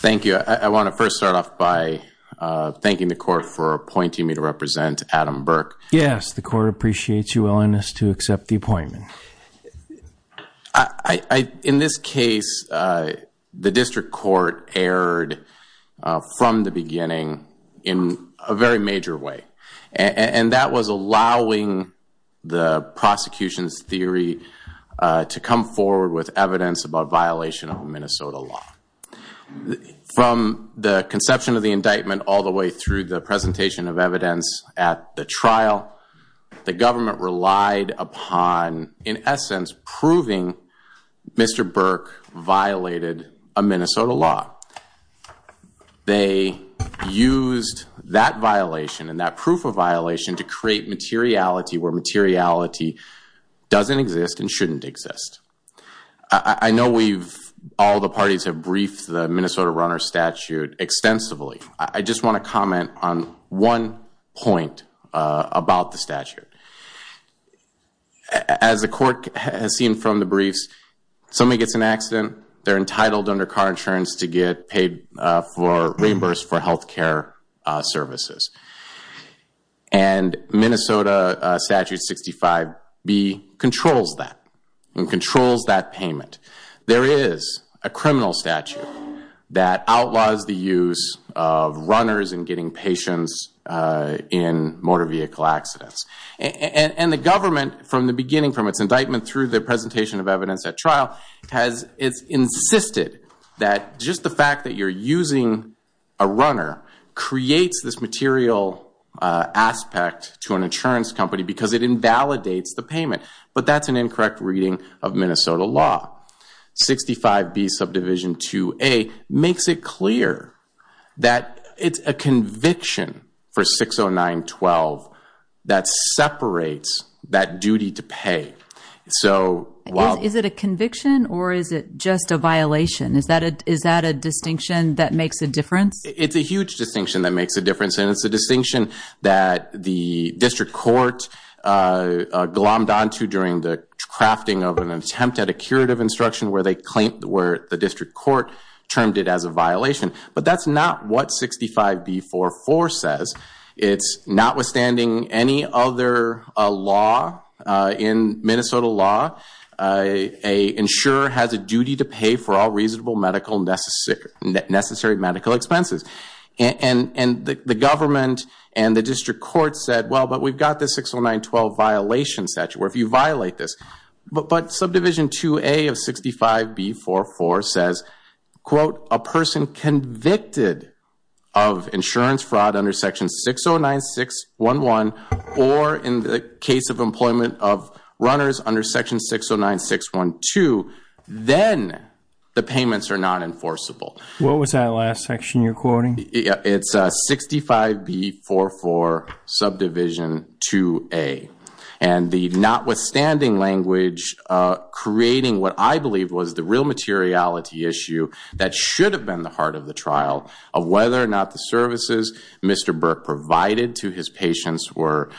Thank you. I want to first start off by thanking the court for appointing me to represent Adam Burke. Yes, the court appreciates your willingness to accept the appointment. In this case, the district court erred from the beginning in a very major way, and that was allowing the prosecution's theory to come forward with evidence about violation of Minnesota law. From the conception of the indictment all the way through the presentation of evidence at the trial, the government relied upon, in essence, proving Mr. Burke violated a Minnesota law. They used that violation and that proof of violation to create materiality where materiality doesn't exist and shouldn't exist. I know all the parties have briefed the Minnesota runner statute extensively. I just want to comment on one point about the statute. As the court has seen from the briefs, somebody gets in an accident, they're entitled under car insurance to get paid or reimbursed for health care services. And Minnesota statute 65B controls that and controls that payment. There is a criminal statute that outlaws the use of runners in getting patients in motor vehicle accidents. And the government, from the beginning, from its indictment through the presentation of evidence at trial, has insisted that just the fact that you're using a runner creates this material aspect to an insurance company because it invalidates the payment. But that's an incorrect reading of Minnesota law. 65B subdivision 2A makes it clear that it's a conviction for 609-12 that separates that duty to pay. Is it a conviction or is it just a violation? Is that a distinction that makes a difference? It's a huge distinction that makes a difference, and it's a distinction that the district court glommed onto during the crafting of an attempt at a curative instruction where the district court termed it as a violation. But that's not what 65B-4-4 says. It's notwithstanding any other law in Minnesota law, an insurer has a duty to pay for all reasonable medical necessary medical expenses. And the government and the district court said, well, but we've got this 609-12 violation statute. Well, if you violate this. But subdivision 2A of 65B-4-4 says, quote, a person convicted of insurance fraud under section 609-611 or in the case of employment of runners under section 609-612, then the payments are not enforceable. What was that last section you're quoting? It's 65B-4-4 subdivision 2A. And the notwithstanding language creating what I believe was the real materiality issue that should have been the heart of the trial of whether or not the services Mr. Burke provided to his patients were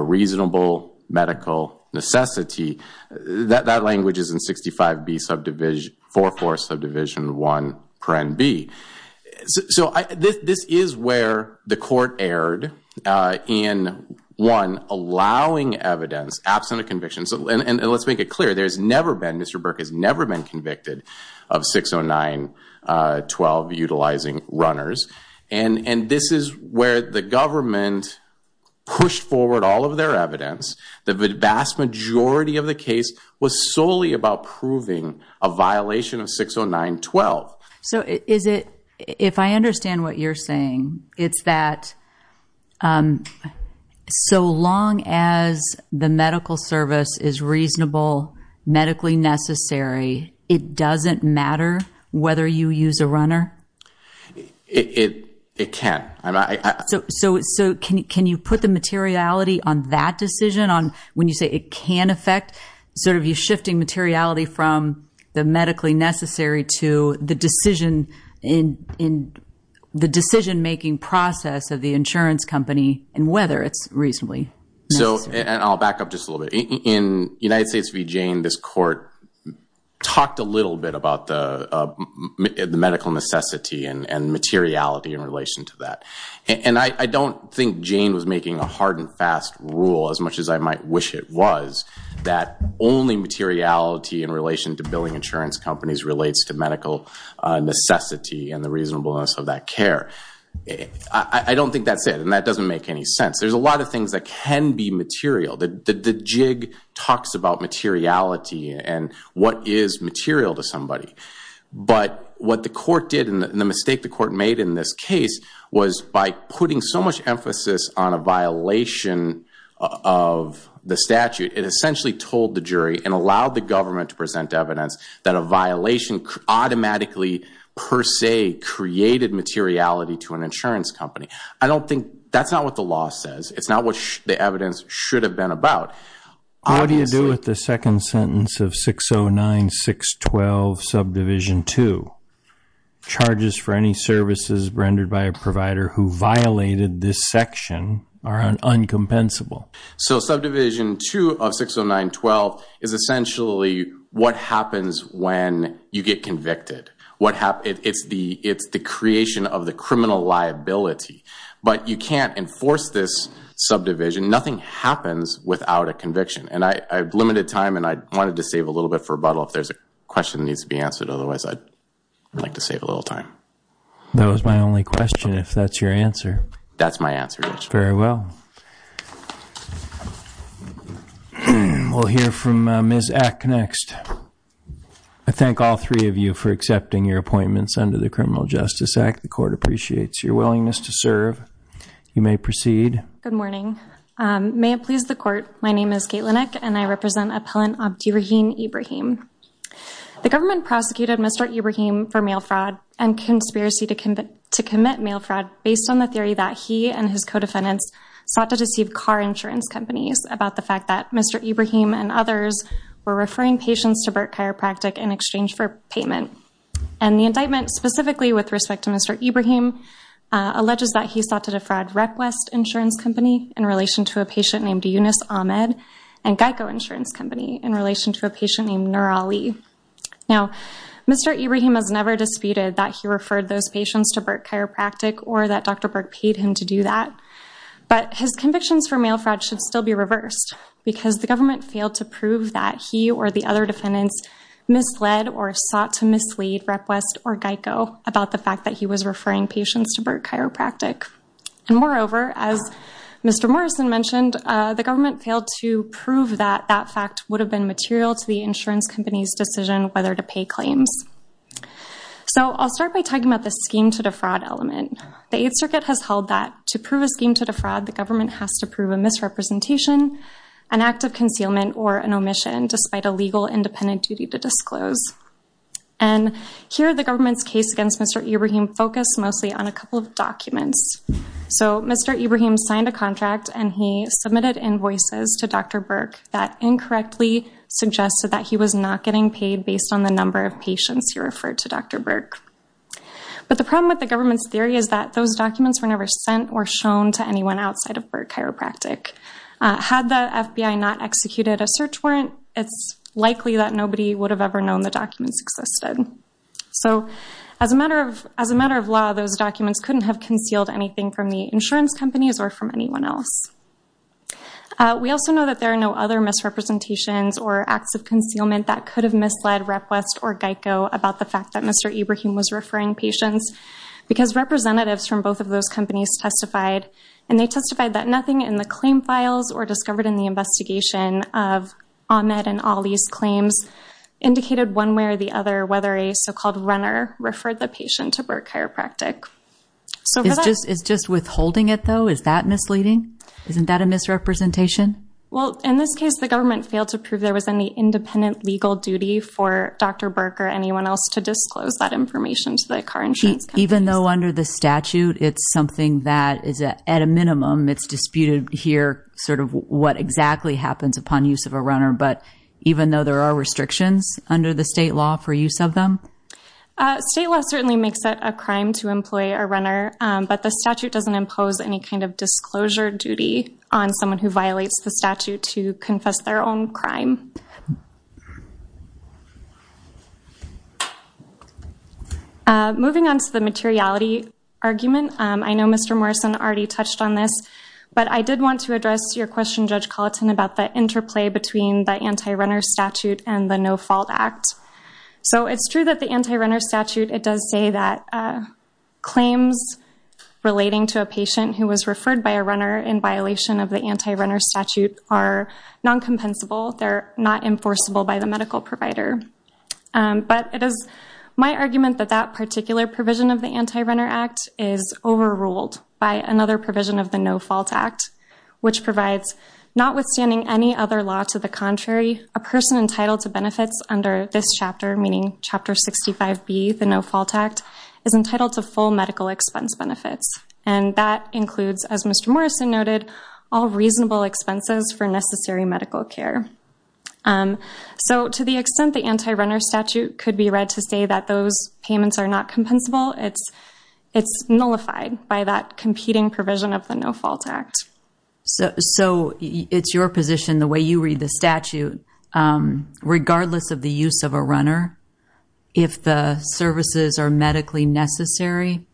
reasonable medical necessity, that language is in 65B subdivision, 4-4 subdivision 1, paren B. So this is where the court erred in, one, allowing evidence absent of conviction. And let's make it clear, there's never been, Mr. Burke has never been convicted of 609-12 utilizing runners. And this is where the government pushed forward all of their evidence. The vast majority of the case was solely about proving a violation of 609-12. So is it, if I understand what you're saying, it's that so long as the medical service is reasonable, medically necessary, it doesn't matter whether you use a runner? It can't. So can you put the materiality on that decision, on when you say it can affect, sort of you shifting materiality from the medically necessary to the decision-making process of the insurance company and whether it's reasonably necessary? And I'll back up just a little bit. In United States v. Jane, this court talked a little bit about the medical necessity and materiality in relation to that. And I don't think Jane was making a hard and fast rule, as much as I might wish it was, that only materiality in relation to billing insurance companies relates to medical necessity and the reasonableness of that care. I don't think that's it, and that doesn't make any sense. There's a lot of things that can be material. The jig talks about materiality and what is material to somebody. But what the court did, and the mistake the court made in this case, was by putting so much emphasis on a violation of the statute, it essentially told the jury and allowed the government to present evidence that a violation automatically, per se, created materiality to an insurance company. I don't think that's not what the law says. It's not what the evidence should have been about. What do you do with the second sentence of 609-612, subdivision 2? Charges for any services rendered by a provider who violated this section are uncompensable. So subdivision 2 of 609-12 is essentially what happens when you get convicted. It's the creation of the criminal liability. But you can't enforce this subdivision. Nothing happens without a conviction. And I have limited time, and I wanted to save a little bit for rebuttal if there's a question that needs to be answered. Otherwise, I'd like to save a little time. That was my only question, if that's your answer. That's my answer, yes. Very well. We'll hear from Ms. Eck next. I thank all three of you for accepting your appointments under the Criminal Justice Act. The court appreciates your willingness to serve. You may proceed. Good morning. May it please the court, my name is Kate Linick, and I represent appellant Abdirahim Ibrahim. The government prosecuted Mr. Ibrahim for mail fraud and conspiracy to commit mail fraud based on the theory that he and his co-defendants sought to deceive car insurance companies about the fact that Mr. Ibrahim and others were referring patients to Burke Chiropractic in exchange for payment. And the indictment specifically with respect to Mr. Ibrahim alleges that he sought to defraud Request Insurance Company in relation to a patient named Yunus Ahmed and Geico Insurance Company in relation to a patient named Nur Ali. Now, Mr. Ibrahim has never disputed that he referred those patients to Burke Chiropractic or that Dr. Burke paid him to do that, but his convictions for mail fraud should still be reversed because the government failed to prove that he or the other defendants misled or sought to mislead Request or Geico about the fact that he was referring patients to Burke Chiropractic. And moreover, as Mr. Morrison mentioned, the government failed to prove that that fact would have been material to the insurance company's decision whether to pay claims. So I'll start by talking about the scheme to defraud element. The Eighth Circuit has held that to prove a scheme to defraud, the government has to prove a misrepresentation, an act of concealment, or an omission despite a legal independent duty to disclose. And here the government's case against Mr. Ibrahim focused mostly on a couple of documents. So Mr. Ibrahim signed a contract and he submitted invoices to Dr. Burke that incorrectly suggested that he was not getting paid based on the number of patients he referred to Dr. Burke. But the problem with the government's theory is that those documents were never sent or shown to anyone outside of Burke Chiropractic. Had the FBI not executed a search warrant, it's likely that nobody would have ever known the documents existed. So as a matter of law, those documents couldn't have concealed anything from the insurance companies or from anyone else. We also know that there are no other misrepresentations or acts of concealment that could have misled Request or Geico about the fact that Mr. Ibrahim was referring patients. Because representatives from both of those companies testified. And they testified that nothing in the claim files or discovered in the investigation of Ahmed and Ali's claims indicated one way or the other whether a so-called runner referred the patient to Burke Chiropractic. It's just withholding it though? Is that misleading? Isn't that a misrepresentation? Well, in this case, the government failed to prove there was any independent legal duty for Dr. Burke or anyone else to disclose that information to the car insurance. Even though under the statute, it's something that is at a minimum. It's disputed here sort of what exactly happens upon use of a runner. But even though there are restrictions under the state law for use of them. But the statute doesn't impose any kind of disclosure duty on someone who violates the statute to confess their own crime. Moving on to the materiality argument, I know Mr. Morrison already touched on this. But I did want to address your question, Judge Colleton, about the interplay between the anti-runner statute and the No Fault Act. So it's true that the anti-runner statute, it does say that claims relating to a patient who was referred by a runner in violation of the anti-runner statute are non-compensable. They're not enforceable by the medical provider. But it is my argument that that particular provision of the Anti-Runner Act is overruled by another provision of the No Fault Act, which provides notwithstanding any other law to the contrary, a person entitled to benefits under this chapter, meaning Chapter 65B, the No Fault Act, is entitled to full medical expense benefits. And that includes, as Mr. Morrison noted, all reasonable expenses for necessary medical care. So to the extent the anti-runner statute could be read to say that those payments are not compensable, it's nullified by that competing provision of the No Fault Act. So it's your position, the way you read the statute, regardless of the use of a runner, if the services are medically necessary,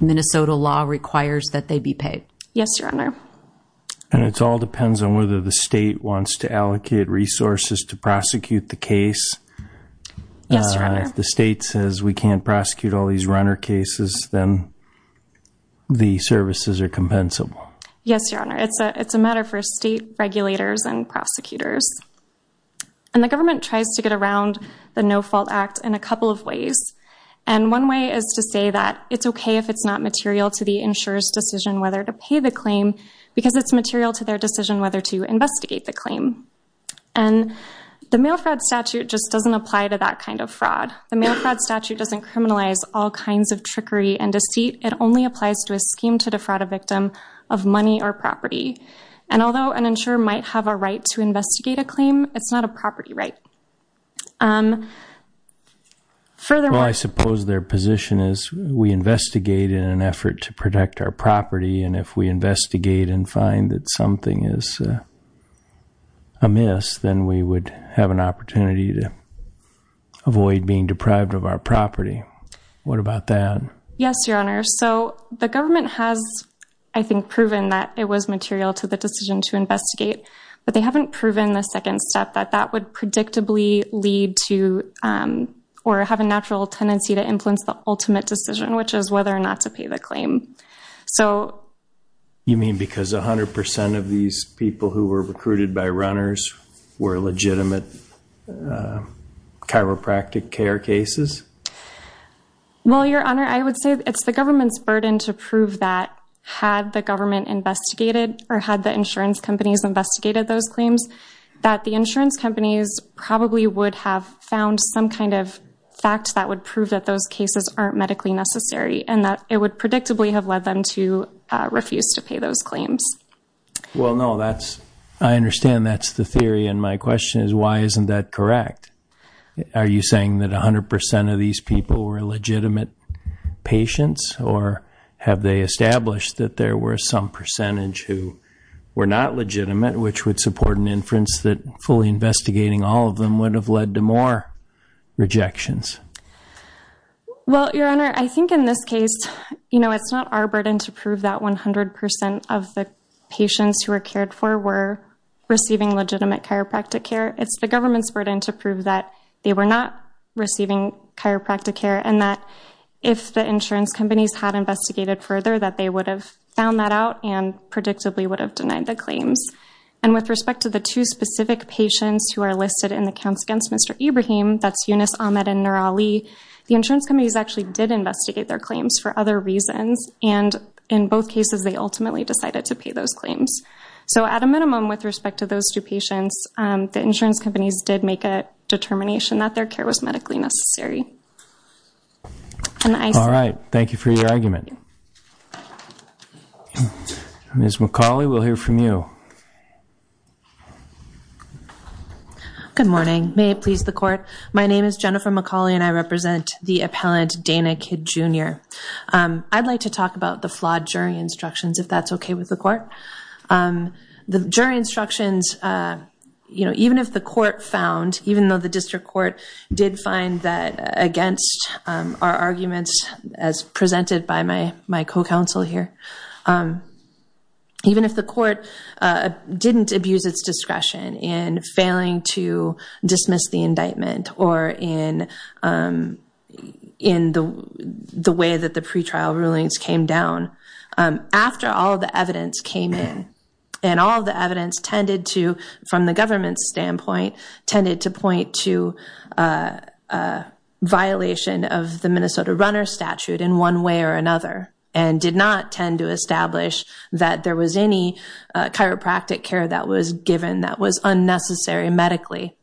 Minnesota law requires that they be paid. Yes, Your Honor. And it all depends on whether the state wants to allocate resources to prosecute the case. Yes, Your Honor. And if the state says we can't prosecute all these runner cases, then the services are compensable. Yes, Your Honor. It's a matter for state regulators and prosecutors. And the government tries to get around the No Fault Act in a couple of ways. And one way is to say that it's okay if it's not material to the insurer's decision whether to pay the claim because it's material to their decision whether to investigate the claim. And the mail fraud statute just doesn't apply to that kind of fraud. The mail fraud statute doesn't criminalize all kinds of trickery and deceit. It only applies to a scheme to defraud a victim of money or property. And although an insurer might have a right to investigate a claim, it's not a property right. Well, I suppose their position is we investigate in an effort to protect our property, and if we investigate and find that something is amiss, then we would have an opportunity to avoid being deprived of our property. What about that? Yes, Your Honor. So the government has, I think, proven that it was material to the decision to investigate, but they haven't proven the second step, that that would predictably lead to or have a natural tendency to influence the ultimate decision, which is whether or not to pay the claim. You mean because 100 percent of these people who were recruited by runners were legitimate chiropractic care cases? Well, Your Honor, I would say it's the government's burden to prove that, had the government investigated or had the insurance companies investigated those claims, that the insurance companies probably would have found some kind of fact that would prove that those cases aren't medically necessary and that it would predictably have led them to refuse to pay those claims. Well, no, I understand that's the theory, and my question is why isn't that correct? Are you saying that 100 percent of these people were legitimate patients, or have they established that there were some percentage who were not legitimate, which would support an inference that fully investigating all of them would have led to more rejections? Well, Your Honor, I think in this case, you know, it's not our burden to prove that 100 percent of the patients who were cared for were receiving legitimate chiropractic care. It's the government's burden to prove that they were not receiving chiropractic care and that if the insurance companies had investigated further, that they would have found that out and predictably would have denied the claims. And with respect to the two specific patients who are listed in the counts against Mr. Ibrahim, that's Yunus, Ahmed, and Nirali, the insurance companies actually did investigate their claims for other reasons, and in both cases they ultimately decided to pay those claims. So at a minimum with respect to those two patients, the insurance companies did make a determination that their care was medically necessary. All right. Thank you for your argument. Ms. McCauley, we'll hear from you. Good morning. May it please the court. My name is Jennifer McCauley, and I represent the appellant Dana Kidd, Jr. I'd like to talk about the flawed jury instructions, if that's okay with the court. The jury instructions, you know, even if the court found, even though the district court did find that against our arguments as presented by my co-counsel here, even if the court didn't abuse its discretion in failing to dismiss the indictment or in the way that the pretrial rulings came down, after all the evidence came in and all the evidence tended to, from the government's standpoint, tended to point to a violation of the Minnesota runner statute in one way or another and did not tend to establish that there was any chiropractic care that was given that was unnecessary medically.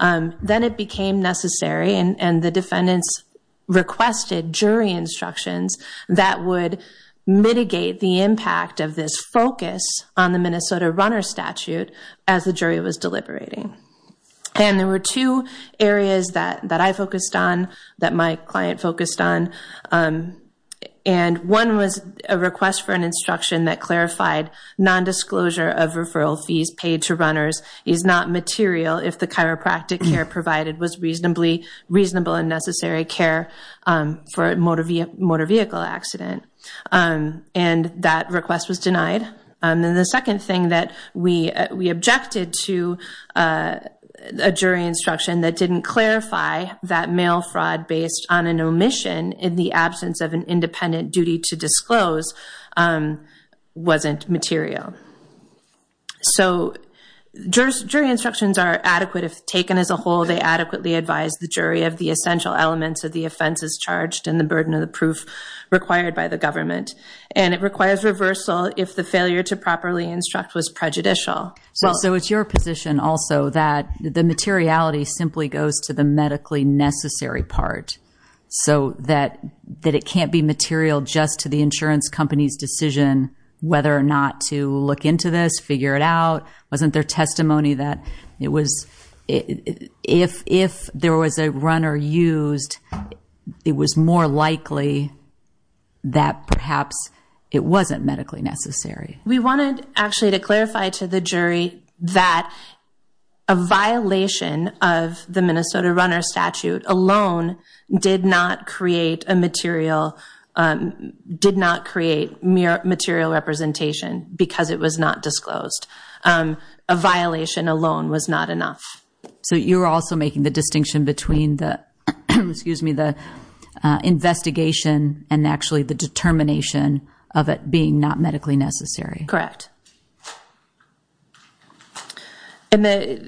Then it became necessary, and the defendants requested jury instructions that would mitigate the impact of this focus on the Minnesota runner statute as the jury was deliberating. And there were two areas that I focused on, that my client focused on, and one was a request for an instruction that clarified nondisclosure of referral fees paid to runners is not material if the chiropractic care provided was reasonable and necessary care for a motor vehicle accident. And that request was denied. And then the second thing that we objected to, a jury instruction that didn't clarify that mail fraud based on an omission in the absence of an independent duty to disclose wasn't material. So jury instructions are adequate if taken as a whole. They adequately advise the jury of the essential elements of the offenses charged and the burden of the proof required by the government. And it requires reversal if the failure to properly instruct was prejudicial. So it's your position also that the materiality simply goes to the medically necessary part, so that it can't be material just to the insurance company's decision whether or not to look into this, figure it out. Wasn't there testimony that if there was a runner used, it was more likely that perhaps it wasn't medically necessary? We wanted actually to clarify to the jury that a violation of the Minnesota runner statute alone did not create material representation because it was not disclosed. A violation alone was not enough. So you're also making the distinction between the investigation and actually the determination of it being not medically necessary. Correct. So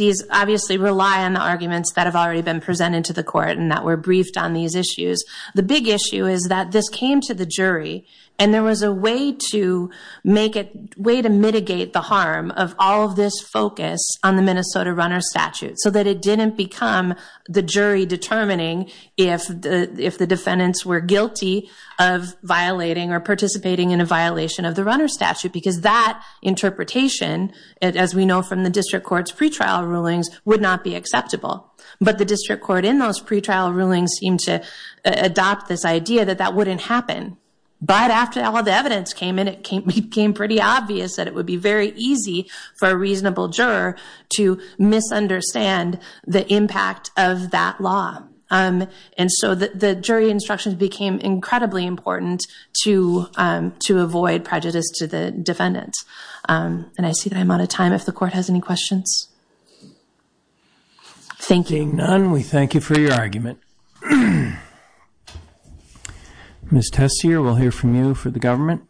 these obviously rely on the arguments that have already been presented to the court and that were briefed on these issues. The big issue is that this came to the jury, and there was a way to mitigate the harm of all of this focus on the Minnesota runner statute, so that it didn't become the jury determining if the defendants were guilty of violating or participating in a violation of the runner statute. Because that interpretation, as we know from the district court's pretrial rulings, would not be acceptable. But the district court in those pretrial rulings seemed to adopt this idea that that wouldn't happen. But after all the evidence came in, it became pretty obvious that it would be very easy for a reasonable juror to misunderstand the impact of that law. And so the jury instructions became incredibly important to avoid prejudice to the defendants. And I see that I'm out of time if the court has any questions. Thank you. Ms. Tessier, we'll hear from you for the government.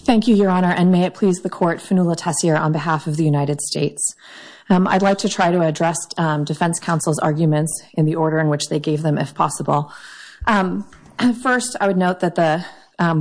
Thank you, Your Honor, and may it please the court, Fanula Tessier on behalf of the United States. I'd like to try to address defense counsel's arguments in the order in which they gave them, if possible. First, I would note that the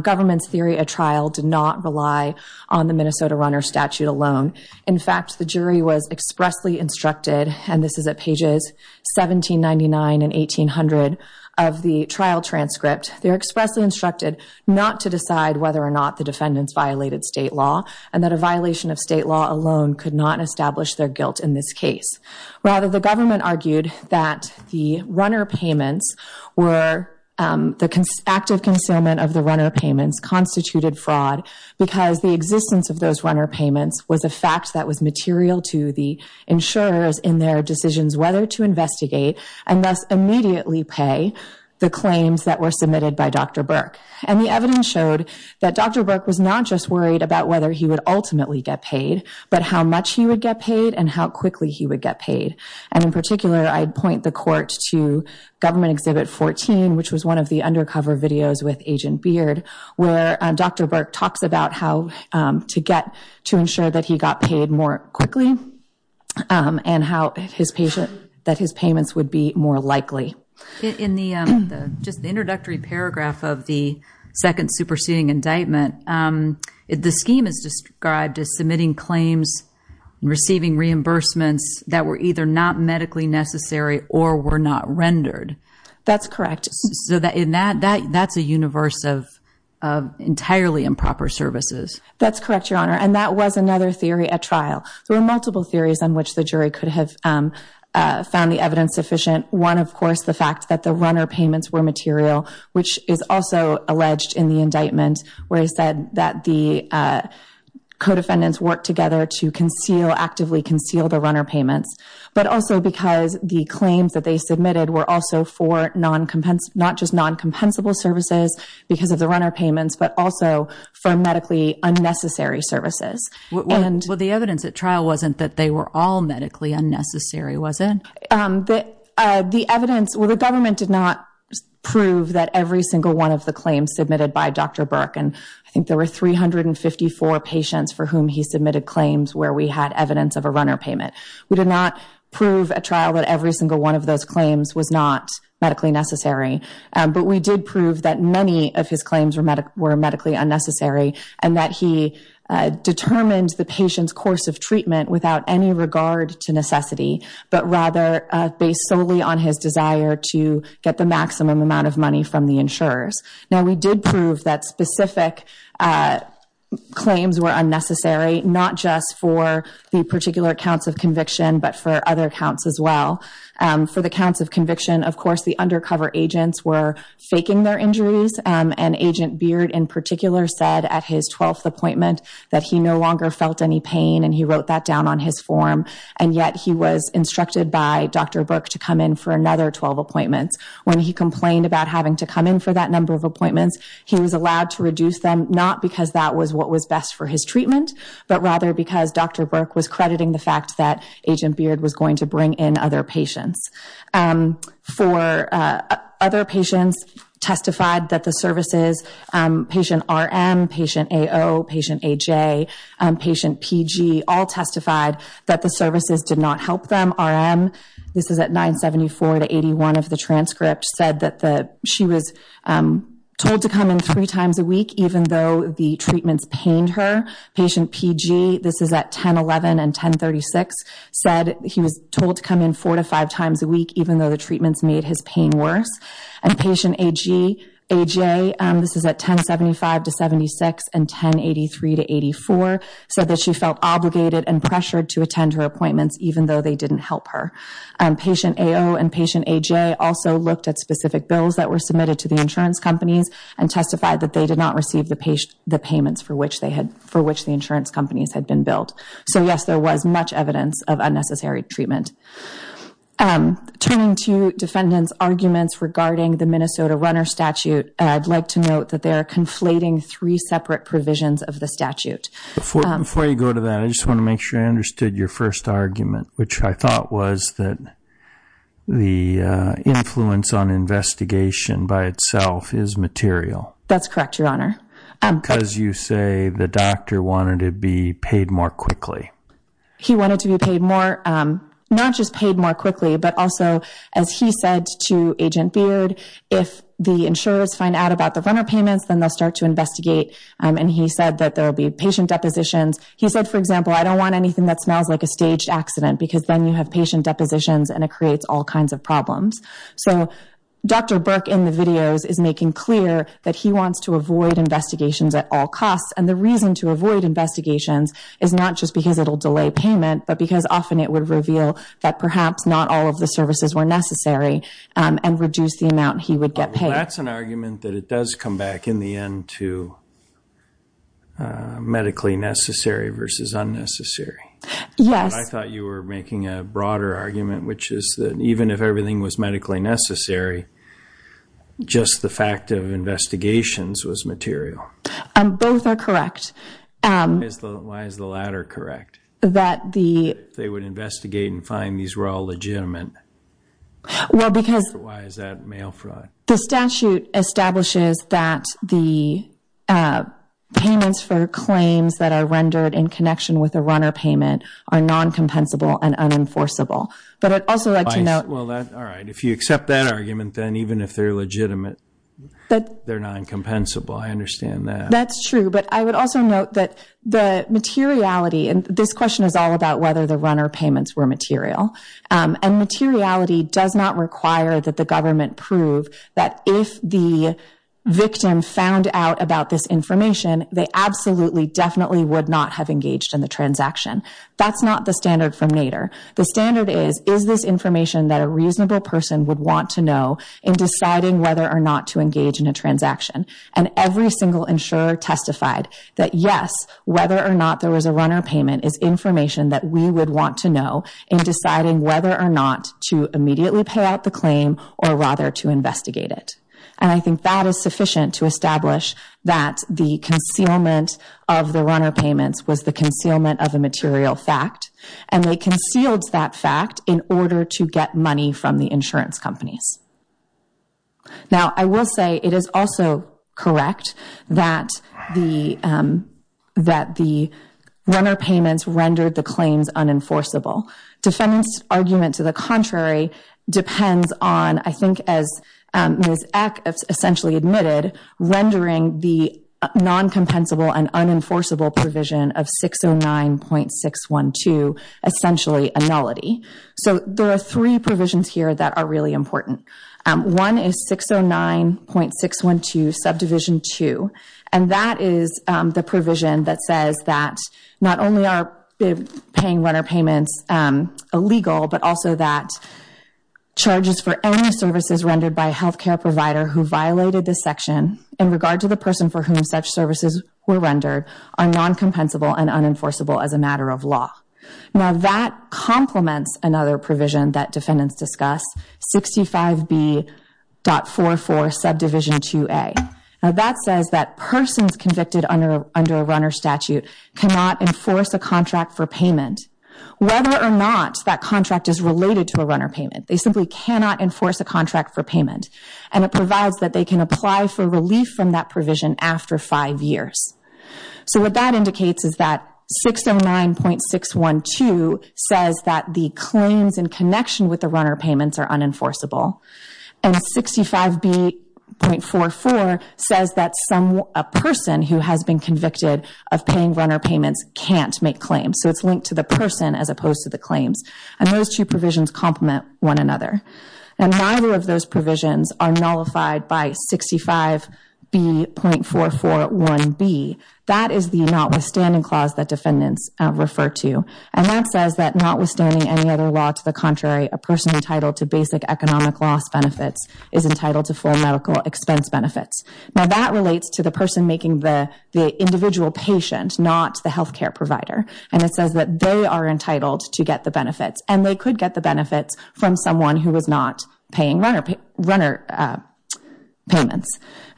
government's theory at trial did not rely on the Minnesota runner statute alone. In fact, the jury was expressly instructed, and this is at pages 1799 and 1800 of the trial transcript. They were expressly instructed not to decide whether or not the defendants violated state law, and that a violation of state law alone could not establish their guilt in this case. Rather, the government argued that the runner payments were the active concealment of the runner payments constituted fraud because the existence of those runner payments was a fact that was material to the insurers in their decisions whether to investigate and thus immediately pay the claims that were submitted by Dr. Burke. And the evidence showed that Dr. Burke was not just worried about whether he would ultimately get paid, but how much he would get paid and how quickly he would get paid. And in particular, I'd point the court to Government Exhibit 14, which was one of the undercover videos with Agent Beard, where Dr. Burke talks about how to get to ensure that he got paid more quickly and how that his payments would be more likely. In the just introductory paragraph of the second superseding indictment, the scheme is described as submitting claims and receiving reimbursements that were either not medically necessary or were not rendered. That's correct. So that's a universe of entirely improper services. That's correct, Your Honor. And that was another theory at trial. There were multiple theories on which the jury could have found the evidence sufficient. One, of course, the fact that the runner payments were material, which is also alleged in the indictment, where he said that the co-defendants worked together to actively conceal the runner payments, but also because the claims that they submitted were also for not just non-compensable services because of the runner payments, but also for medically unnecessary services. Well, the evidence at trial wasn't that they were all medically unnecessary, was it? The evidence, well, the government did not prove that every single one of the claims submitted by Dr. Burke, and I think there were 354 patients for whom he submitted claims where we had evidence of a runner payment. We did not prove at trial that every single one of those claims was not medically necessary, but we did prove that many of his claims were medically unnecessary and that he determined the patient's course of treatment without any regard to necessity, but rather based solely on his desire to get the maximum amount of money from the insurers. Now, we did prove that specific claims were unnecessary, not just for the particular counts of conviction, but for other counts as well. For the counts of conviction, of course, the undercover agents were faking their injuries, and Agent Beard in particular said at his 12th appointment that he no longer felt any pain, and he wrote that down on his form, and yet he was instructed by Dr. Burke to come in for another 12 appointments. When he complained about having to come in for that number of appointments, he was allowed to reduce them, not because that was what was best for his treatment, but rather because Dr. Burke was crediting the fact that Agent Beard was going to bring in other patients. For other patients, testified that the services, patient RM, patient AO, patient AJ, patient PG, all testified that the services did not help them. RM, this is at 974 to 81 of the transcript, said that she was told to come in three times a week, even though the treatments pained her. Patient PG, this is at 1011 and 1036, said he was told to come in four to five times a week, even though the treatments made his pain worse. And patient AJ, this is at 1075 to 76 and 1083 to 84, said that she felt obligated and pressured to attend her appointments even though they didn't help her. Patient AO and patient AJ also looked at specific bills that were submitted to the insurance companies and testified that they did not receive the payments for which the insurance companies had been billed. So, yes, there was much evidence of unnecessary treatment. Turning to defendants' arguments regarding the Minnesota runner statute, I'd like to note that they are conflating three separate provisions of the statute. Before you go to that, I just want to make sure I understood your first argument, which I thought was that the influence on investigation by itself is material. That's correct, Your Honor. Because you say the doctor wanted to be paid more quickly. He wanted to be paid more, not just paid more quickly, but also, as he said to Agent Beard, if the insurers find out about the runner payments, then they'll start to investigate. And he said that there will be patient depositions. He said, for example, I don't want anything that smells like a staged accident because then you have patient depositions and it creates all kinds of problems. So Dr. Burke in the videos is making clear that he wants to avoid investigations at all costs. And the reason to avoid investigations is not just because it will delay payment, but because often it would reveal that perhaps not all of the services were necessary and reduce the amount he would get paid. Well, that's an argument that it does come back in the end to medically necessary versus unnecessary. Yes. I thought you were making a broader argument, which is that even if everything was medically necessary, just the fact of investigations was material. Both are correct. Why is the latter correct? They would investigate and find these were all legitimate. Why is that mail fraud? The statute establishes that the payments for claims that are rendered in connection with a runner payment are non-compensable and unenforceable. But I'd also like to note. All right. If you accept that argument, then even if they're legitimate, they're non-compensable. I understand that. That's true. But I would also note that the materiality. And this question is all about whether the runner payments were material. And materiality does not require that the government prove that if the victim found out about this information, they absolutely definitely would not have engaged in the transaction. That's not the standard from Nader. The standard is, is this information that a reasonable person would want to know in deciding whether or not to engage in a transaction? And every single insurer testified that, yes, whether or not there was a runner payment is information that we would want to know in deciding whether or not to immediately pay out the claim or rather to investigate it. And I think that is sufficient to establish that the concealment of the runner payments was the concealment of a material fact. And they concealed that fact in order to get money from the insurance companies. Now, I will say it is also correct that the runner payments rendered the claims unenforceable. Defendant's argument to the contrary depends on, I think as Ms. Eck essentially admitted, rendering the non-compensable and unenforceable provision of 609.612 essentially a nullity. So there are three provisions here that are really important. One is 609.612 Subdivision 2. And that is the provision that says that not only are paying runner payments illegal, but also that charges for any services rendered by a health care provider who violated this section in regard to the person for whom such services were rendered are non-compensable and unenforceable as a matter of law. Now, that complements another provision that defendants discuss, 65B.44 Subdivision 2A. Now, that says that persons convicted under a runner statute cannot enforce a contract for payment. Whether or not that contract is related to a runner payment, they simply cannot enforce a contract for payment. And it provides that they can apply for relief from that provision after five years. So what that indicates is that 609.612 says that the claims in connection with the runner payments are unenforceable. And 65B.44 says that a person who has been convicted of paying runner payments can't make claims. So it's linked to the person as opposed to the claims. And those two provisions complement one another. And neither of those provisions are nullified by 65B.441B. That is the notwithstanding clause that defendants refer to. And that says that notwithstanding any other law to the contrary, a person entitled to basic economic loss benefits is entitled to full medical expense benefits. Now, that relates to the person making the individual patient, not the health care provider. And they could get the benefits from someone who was not paying runner payments.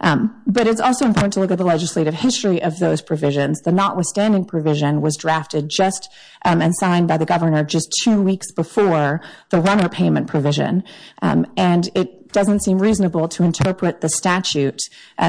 But it's also important to look at the legislative history of those provisions. The notwithstanding provision was drafted just and signed by the governor just two weeks before the runner payment provision. And it doesn't seem reasonable to interpret the statute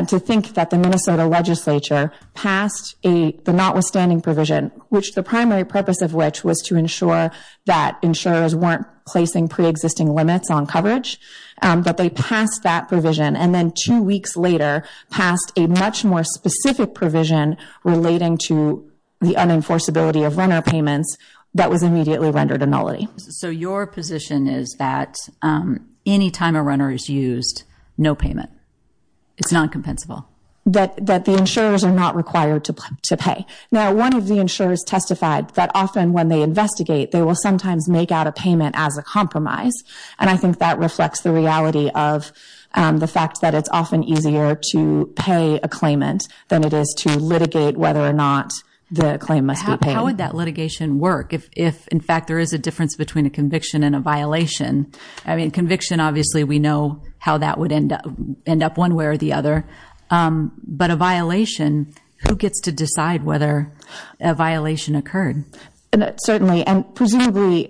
to think that the Minnesota legislature passed the notwithstanding provision, which the primary purpose of which was to ensure that insurers weren't placing preexisting limits on coverage. But they passed that provision. And then two weeks later passed a much more specific provision relating to the unenforceability of runner payments that was immediately rendered a nullity. So your position is that any time a runner is used, no payment. It's non-compensable. That the insurers are not required to pay. Now, one of the insurers testified that often when they investigate, they will sometimes make out a payment as a compromise. And I think that reflects the reality of the fact that it's often easier to pay a claimant than it is to litigate whether or not the claim must be paid. How would that litigation work if, in fact, there is a difference between a conviction and a violation? I mean, conviction, obviously, we know how that would end up one way or the other. But a violation, who gets to decide whether a violation occurred? Certainly. And presumably,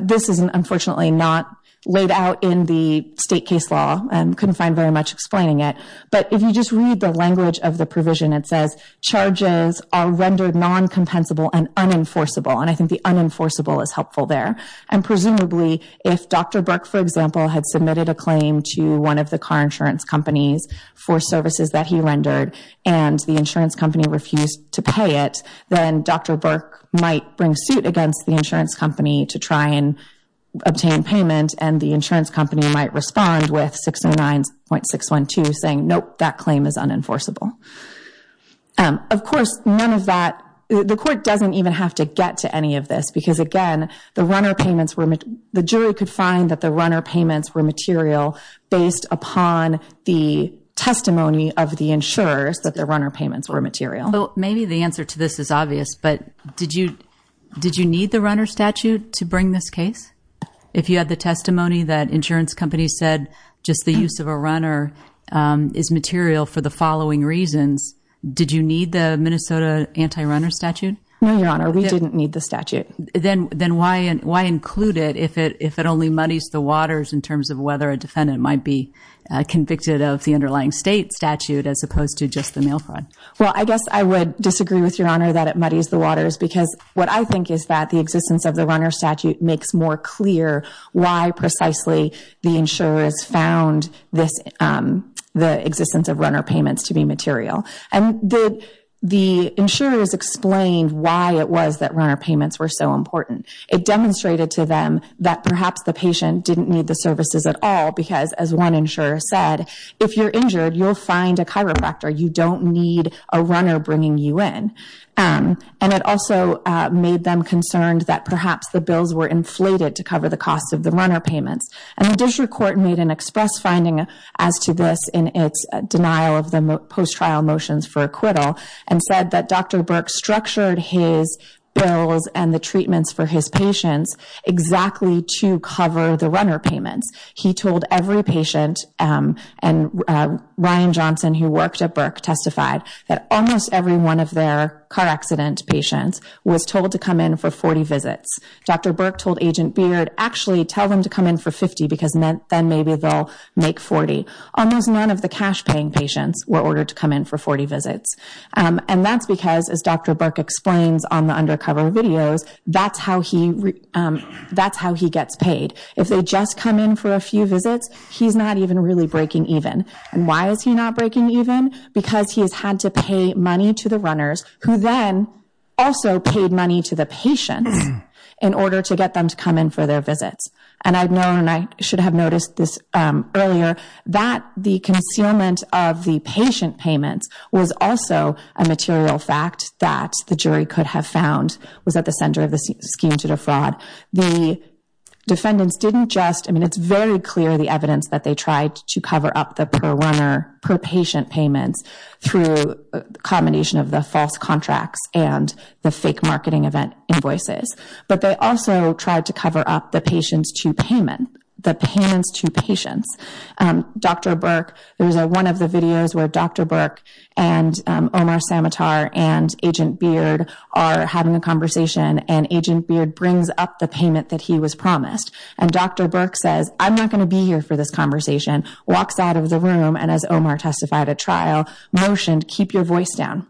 this is unfortunately not laid out in the state case law and couldn't find very much explaining it. But if you just read the language of the provision, it says charges are rendered non-compensable and unenforceable. And I think the unenforceable is helpful there. And presumably, if Dr. Burke, for example, had submitted a claim to one of the car insurance companies for services that he rendered and the insurance company refused to pay it, then Dr. Burke might bring suit against the insurance company to try and obtain payment. And the insurance company might respond with 609.612 saying, nope, that claim is unenforceable. Of course, none of that, the court doesn't even have to get to any of this because, again, the runner payments were, the jury could find that the runner payments were material based upon the testimony of the insurers that the runner payments were material. So maybe the answer to this is obvious, but did you need the runner statute to bring this case? If you had the testimony that insurance companies said just the use of a runner is material for the following reasons, did you need the Minnesota anti-runner statute? No, Your Honor, we didn't need the statute. Then why include it if it only muddies the waters in terms of whether a defendant might be convicted of the underlying state statute as opposed to just the mail fraud? Well, I guess I would disagree with Your Honor that it muddies the waters because what I think is that the existence of the runner statute makes more clear why precisely the insurers found the existence of runner payments to be material. And the insurers explained why it was that runner payments were so important. It demonstrated to them that perhaps the patient didn't need the services at all because, as one insurer said, if you're injured, you'll find a chiropractor. You don't need a runner bringing you in. And it also made them concerned that perhaps the bills were inflated to cover the cost of the runner payments. And the district court made an express finding as to this in its denial of the post-trial motions for acquittal and said that Dr. Burke structured his bills and the treatments for his patients exactly to cover the runner payments. He told every patient, and Ryan Johnson who worked at Burke testified, that almost every one of their car accident patients was told to come in for 40 visits. Dr. Burke told Agent Beard, actually tell them to come in for 50 because then maybe they'll make 40. Almost none of the cash-paying patients were ordered to come in for 40 visits. And that's because, as Dr. Burke explains on the undercover videos, that's how he gets paid. If they just come in for a few visits, he's not even really breaking even. And why is he not breaking even? Because he's had to pay money to the runners, who then also paid money to the patients, in order to get them to come in for their visits. And I know, and I should have noticed this earlier, that the concealment of the patient payments was also a material fact that the jury could have found was at the center of the scheme to defraud. The defendants didn't just, I mean, it's very clear the evidence that they tried to cover up the per-runner, per-patient payments through a combination of the false contracts and the fake marketing event invoices. But they also tried to cover up the patients to payment, the payments to patients. Dr. Burke, there was one of the videos where Dr. Burke and Omar Samatar and Agent Beard are having a conversation, and Agent Beard brings up the payment that he was promised. And Dr. Burke says, I'm not going to be here for this conversation, walks out of the room, and as Omar testified at trial, motioned, keep your voice down.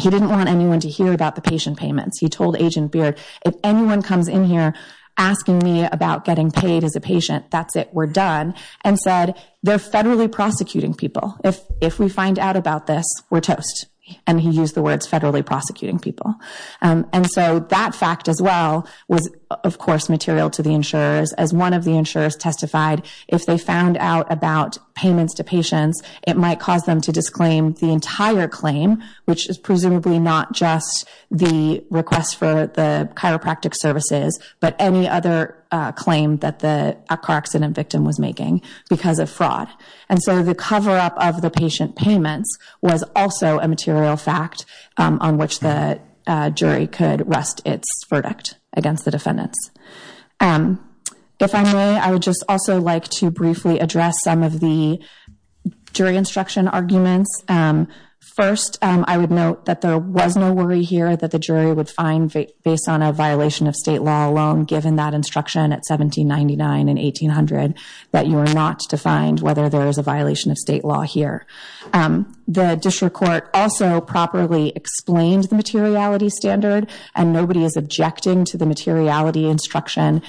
He didn't want anyone to hear about the patient payments. He told Agent Beard, if anyone comes in here asking me about getting paid as a patient, that's it, we're done, and said, they're federally prosecuting people. If we find out about this, we're toast. And he used the words federally prosecuting people. And so that fact as well was, of course, material to the insurers. As one of the insurers testified, if they found out about payments to patients, it might cause them to disclaim the entire claim, which is presumably not just the request for the chiropractic services, but any other claim that the car accident victim was making because of fraud. And so the cover-up of the patient payments was also a material fact on which the jury could rest its verdict against the defendants. If I may, I would just also like to briefly address some of the jury instruction arguments. First, I would note that there was no worry here that the jury would find, based on a violation of state law alone, given that instruction at 1799 and 1800, that you are not to find whether there is a violation of state law here. The district court also properly explained the materiality standard, and nobody is objecting to the materiality instruction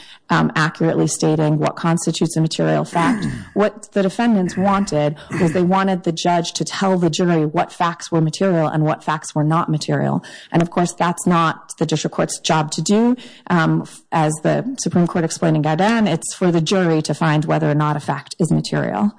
accurately stating what constitutes a material fact. What the defendants wanted was they wanted the judge to tell the jury what facts were material and what facts were not material. And, of course, that's not the district court's job to do. As the Supreme Court explained in Gaudin, it's for the jury to find whether or not a fact is material.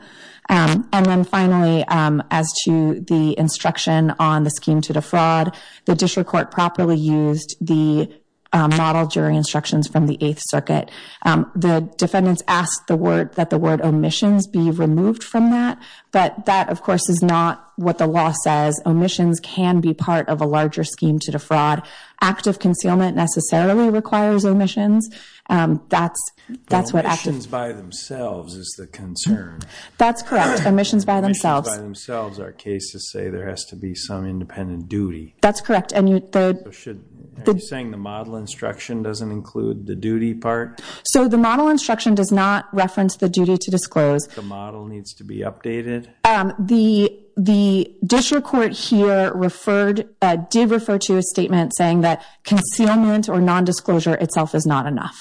And then finally, as to the instruction on the scheme to defraud, the district court properly used the model jury instructions from the Eighth Circuit. The defendants asked that the word omissions be removed from that, but that, of course, is not what the law says. Omissions can be part of a larger scheme to defraud. Active concealment necessarily requires omissions. Omissions by themselves is the concern. That's correct. Omissions by themselves. Omissions by themselves. Our cases say there has to be some independent duty. That's correct. Are you saying the model instruction doesn't include the duty part? So the model instruction does not reference the duty to disclose. The model needs to be updated? The district court here did refer to a statement saying that concealment or nondisclosure itself is not enough.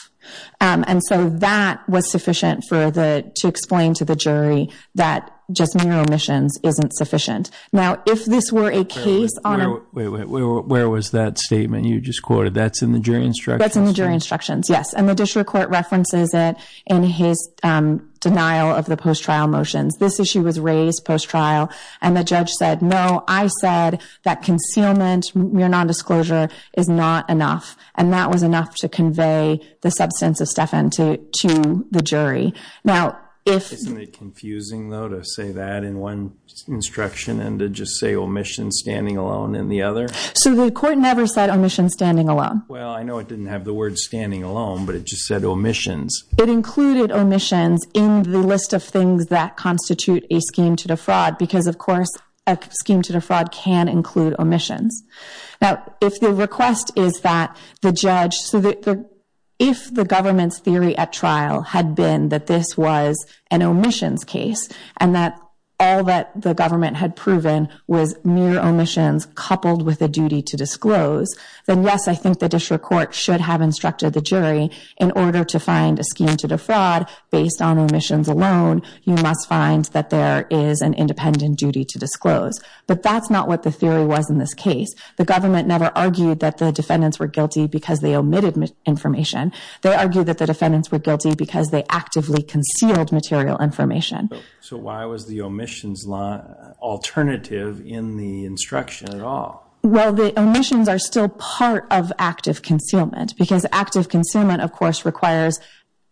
And so that was sufficient to explain to the jury that just mere omissions isn't sufficient. Now, if this were a case on a- Wait, wait, wait. Where was that statement you just quoted? That's in the jury instructions? That's in the jury instructions, yes. And the district court references it in his denial of the post-trial motions. This issue was raised post-trial. And the judge said, no, I said that concealment, mere nondisclosure, is not enough. And that was enough to convey the substance of Stephan to the jury. Now, if- Isn't it confusing, though, to say that in one instruction and to just say omission standing alone in the other? So the court never said omission standing alone. Well, I know it didn't have the word standing alone, but it just said omissions. It included omissions in the list of things that constitute a scheme to defraud because, of course, a scheme to defraud can include omissions. Now, if the request is that the judge- So if the government's theory at trial had been that this was an omissions case and that all that the government had proven was mere omissions coupled with a duty to disclose, then, yes, I think the district court should have instructed the jury in order to find a scheme to defraud based on omissions alone, you must find that there is an independent duty to disclose. But that's not what the theory was in this case. The government never argued that the defendants were guilty because they omitted information. They argued that the defendants were guilty because they actively concealed material information. So why was the omissions alternative in the instruction at all? Well, the omissions are still part of active concealment because active concealment, of course, requires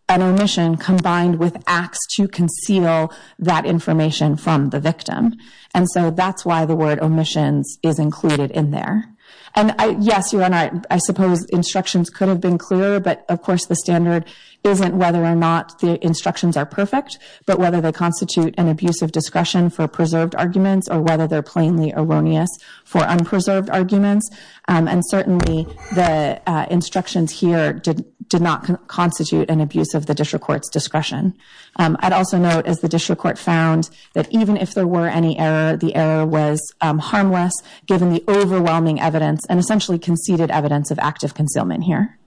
an omission combined with acts to conceal that information from the victim. And so that's why the word omissions is included in there. And, yes, Your Honor, I suppose instructions could have been clearer. But, of course, the standard isn't whether or not the instructions are perfect, but whether they constitute an abuse of discretion for preserved arguments or whether they're plainly erroneous for unpreserved arguments. And certainly the instructions here did not constitute an abuse of the district court's discretion. I'd also note, as the district court found, that even if there were any error, the error was harmless, given the overwhelming evidence and essentially conceded evidence of active concealment here.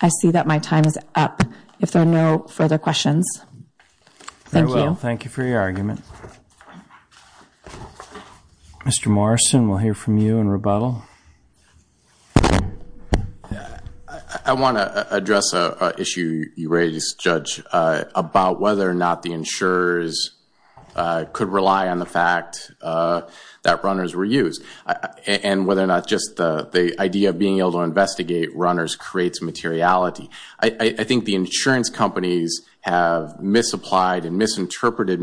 I see that my time is up. If there are no further questions, thank you. Very well. Thank you for your argument. Mr. Morrison, we'll hear from you in rebuttal. I want to address an issue you raised, Judge, about whether or not the insurers could rely on the fact that runners were used and whether or not just the idea of being able to investigate runners creates materiality. I think the insurance companies have misapplied and misinterpreted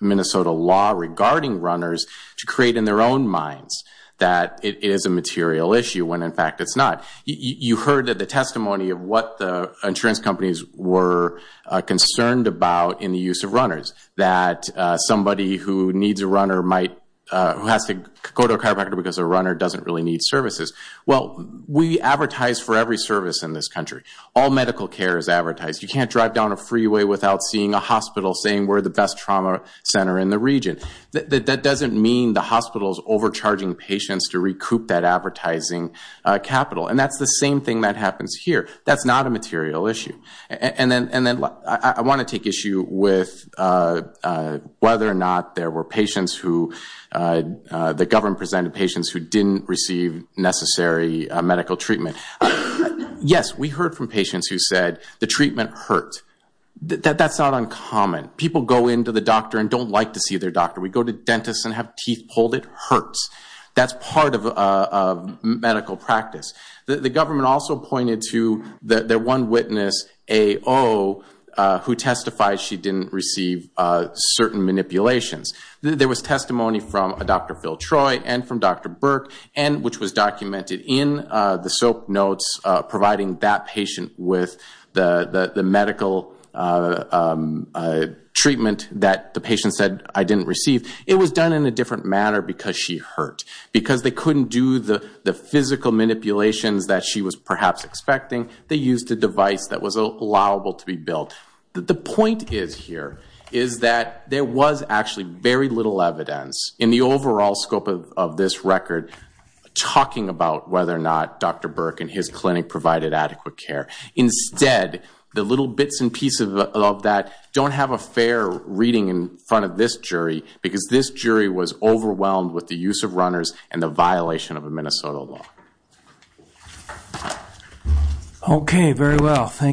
Minnesota law regarding runners to create in their own minds that it is a material issue when, in fact, it's not. You heard the testimony of what the insurance companies were concerned about in the use of runners, that somebody who needs a runner who has to go to a chiropractor because a runner doesn't really need services. Well, we advertise for every service in this country. All medical care is advertised. You can't drive down a freeway without seeing a hospital saying we're the best trauma center in the region. That doesn't mean the hospital is overcharging patients to recoup that advertising capital. And that's the same thing that happens here. That's not a material issue. I want to take issue with whether or not there were patients who the government presented patients who didn't receive necessary medical treatment. Yes, we heard from patients who said the treatment hurt. That's not uncommon. People go into the doctor and don't like to see their doctor. We go to dentists and have teeth pulled. It hurts. That's part of medical practice. The government also pointed to their one witness, AO, who testified she didn't receive certain manipulations. There was testimony from Dr. Phil Troy and from Dr. Burke, which was documented in the SOAP notes, providing that patient with the medical treatment that the patient said, I didn't receive. It was done in a different manner because she hurt. Because they couldn't do the physical manipulations that she was perhaps expecting, they used a device that was allowable to be built. The point is here is that there was actually very little evidence in the overall scope of this record talking about whether or not Dr. Burke and his clinic provided adequate care. Instead, the little bits and pieces of that don't have a fair reading in front of this jury because this jury was overwhelmed with the use of runners and the violation of a Minnesota law.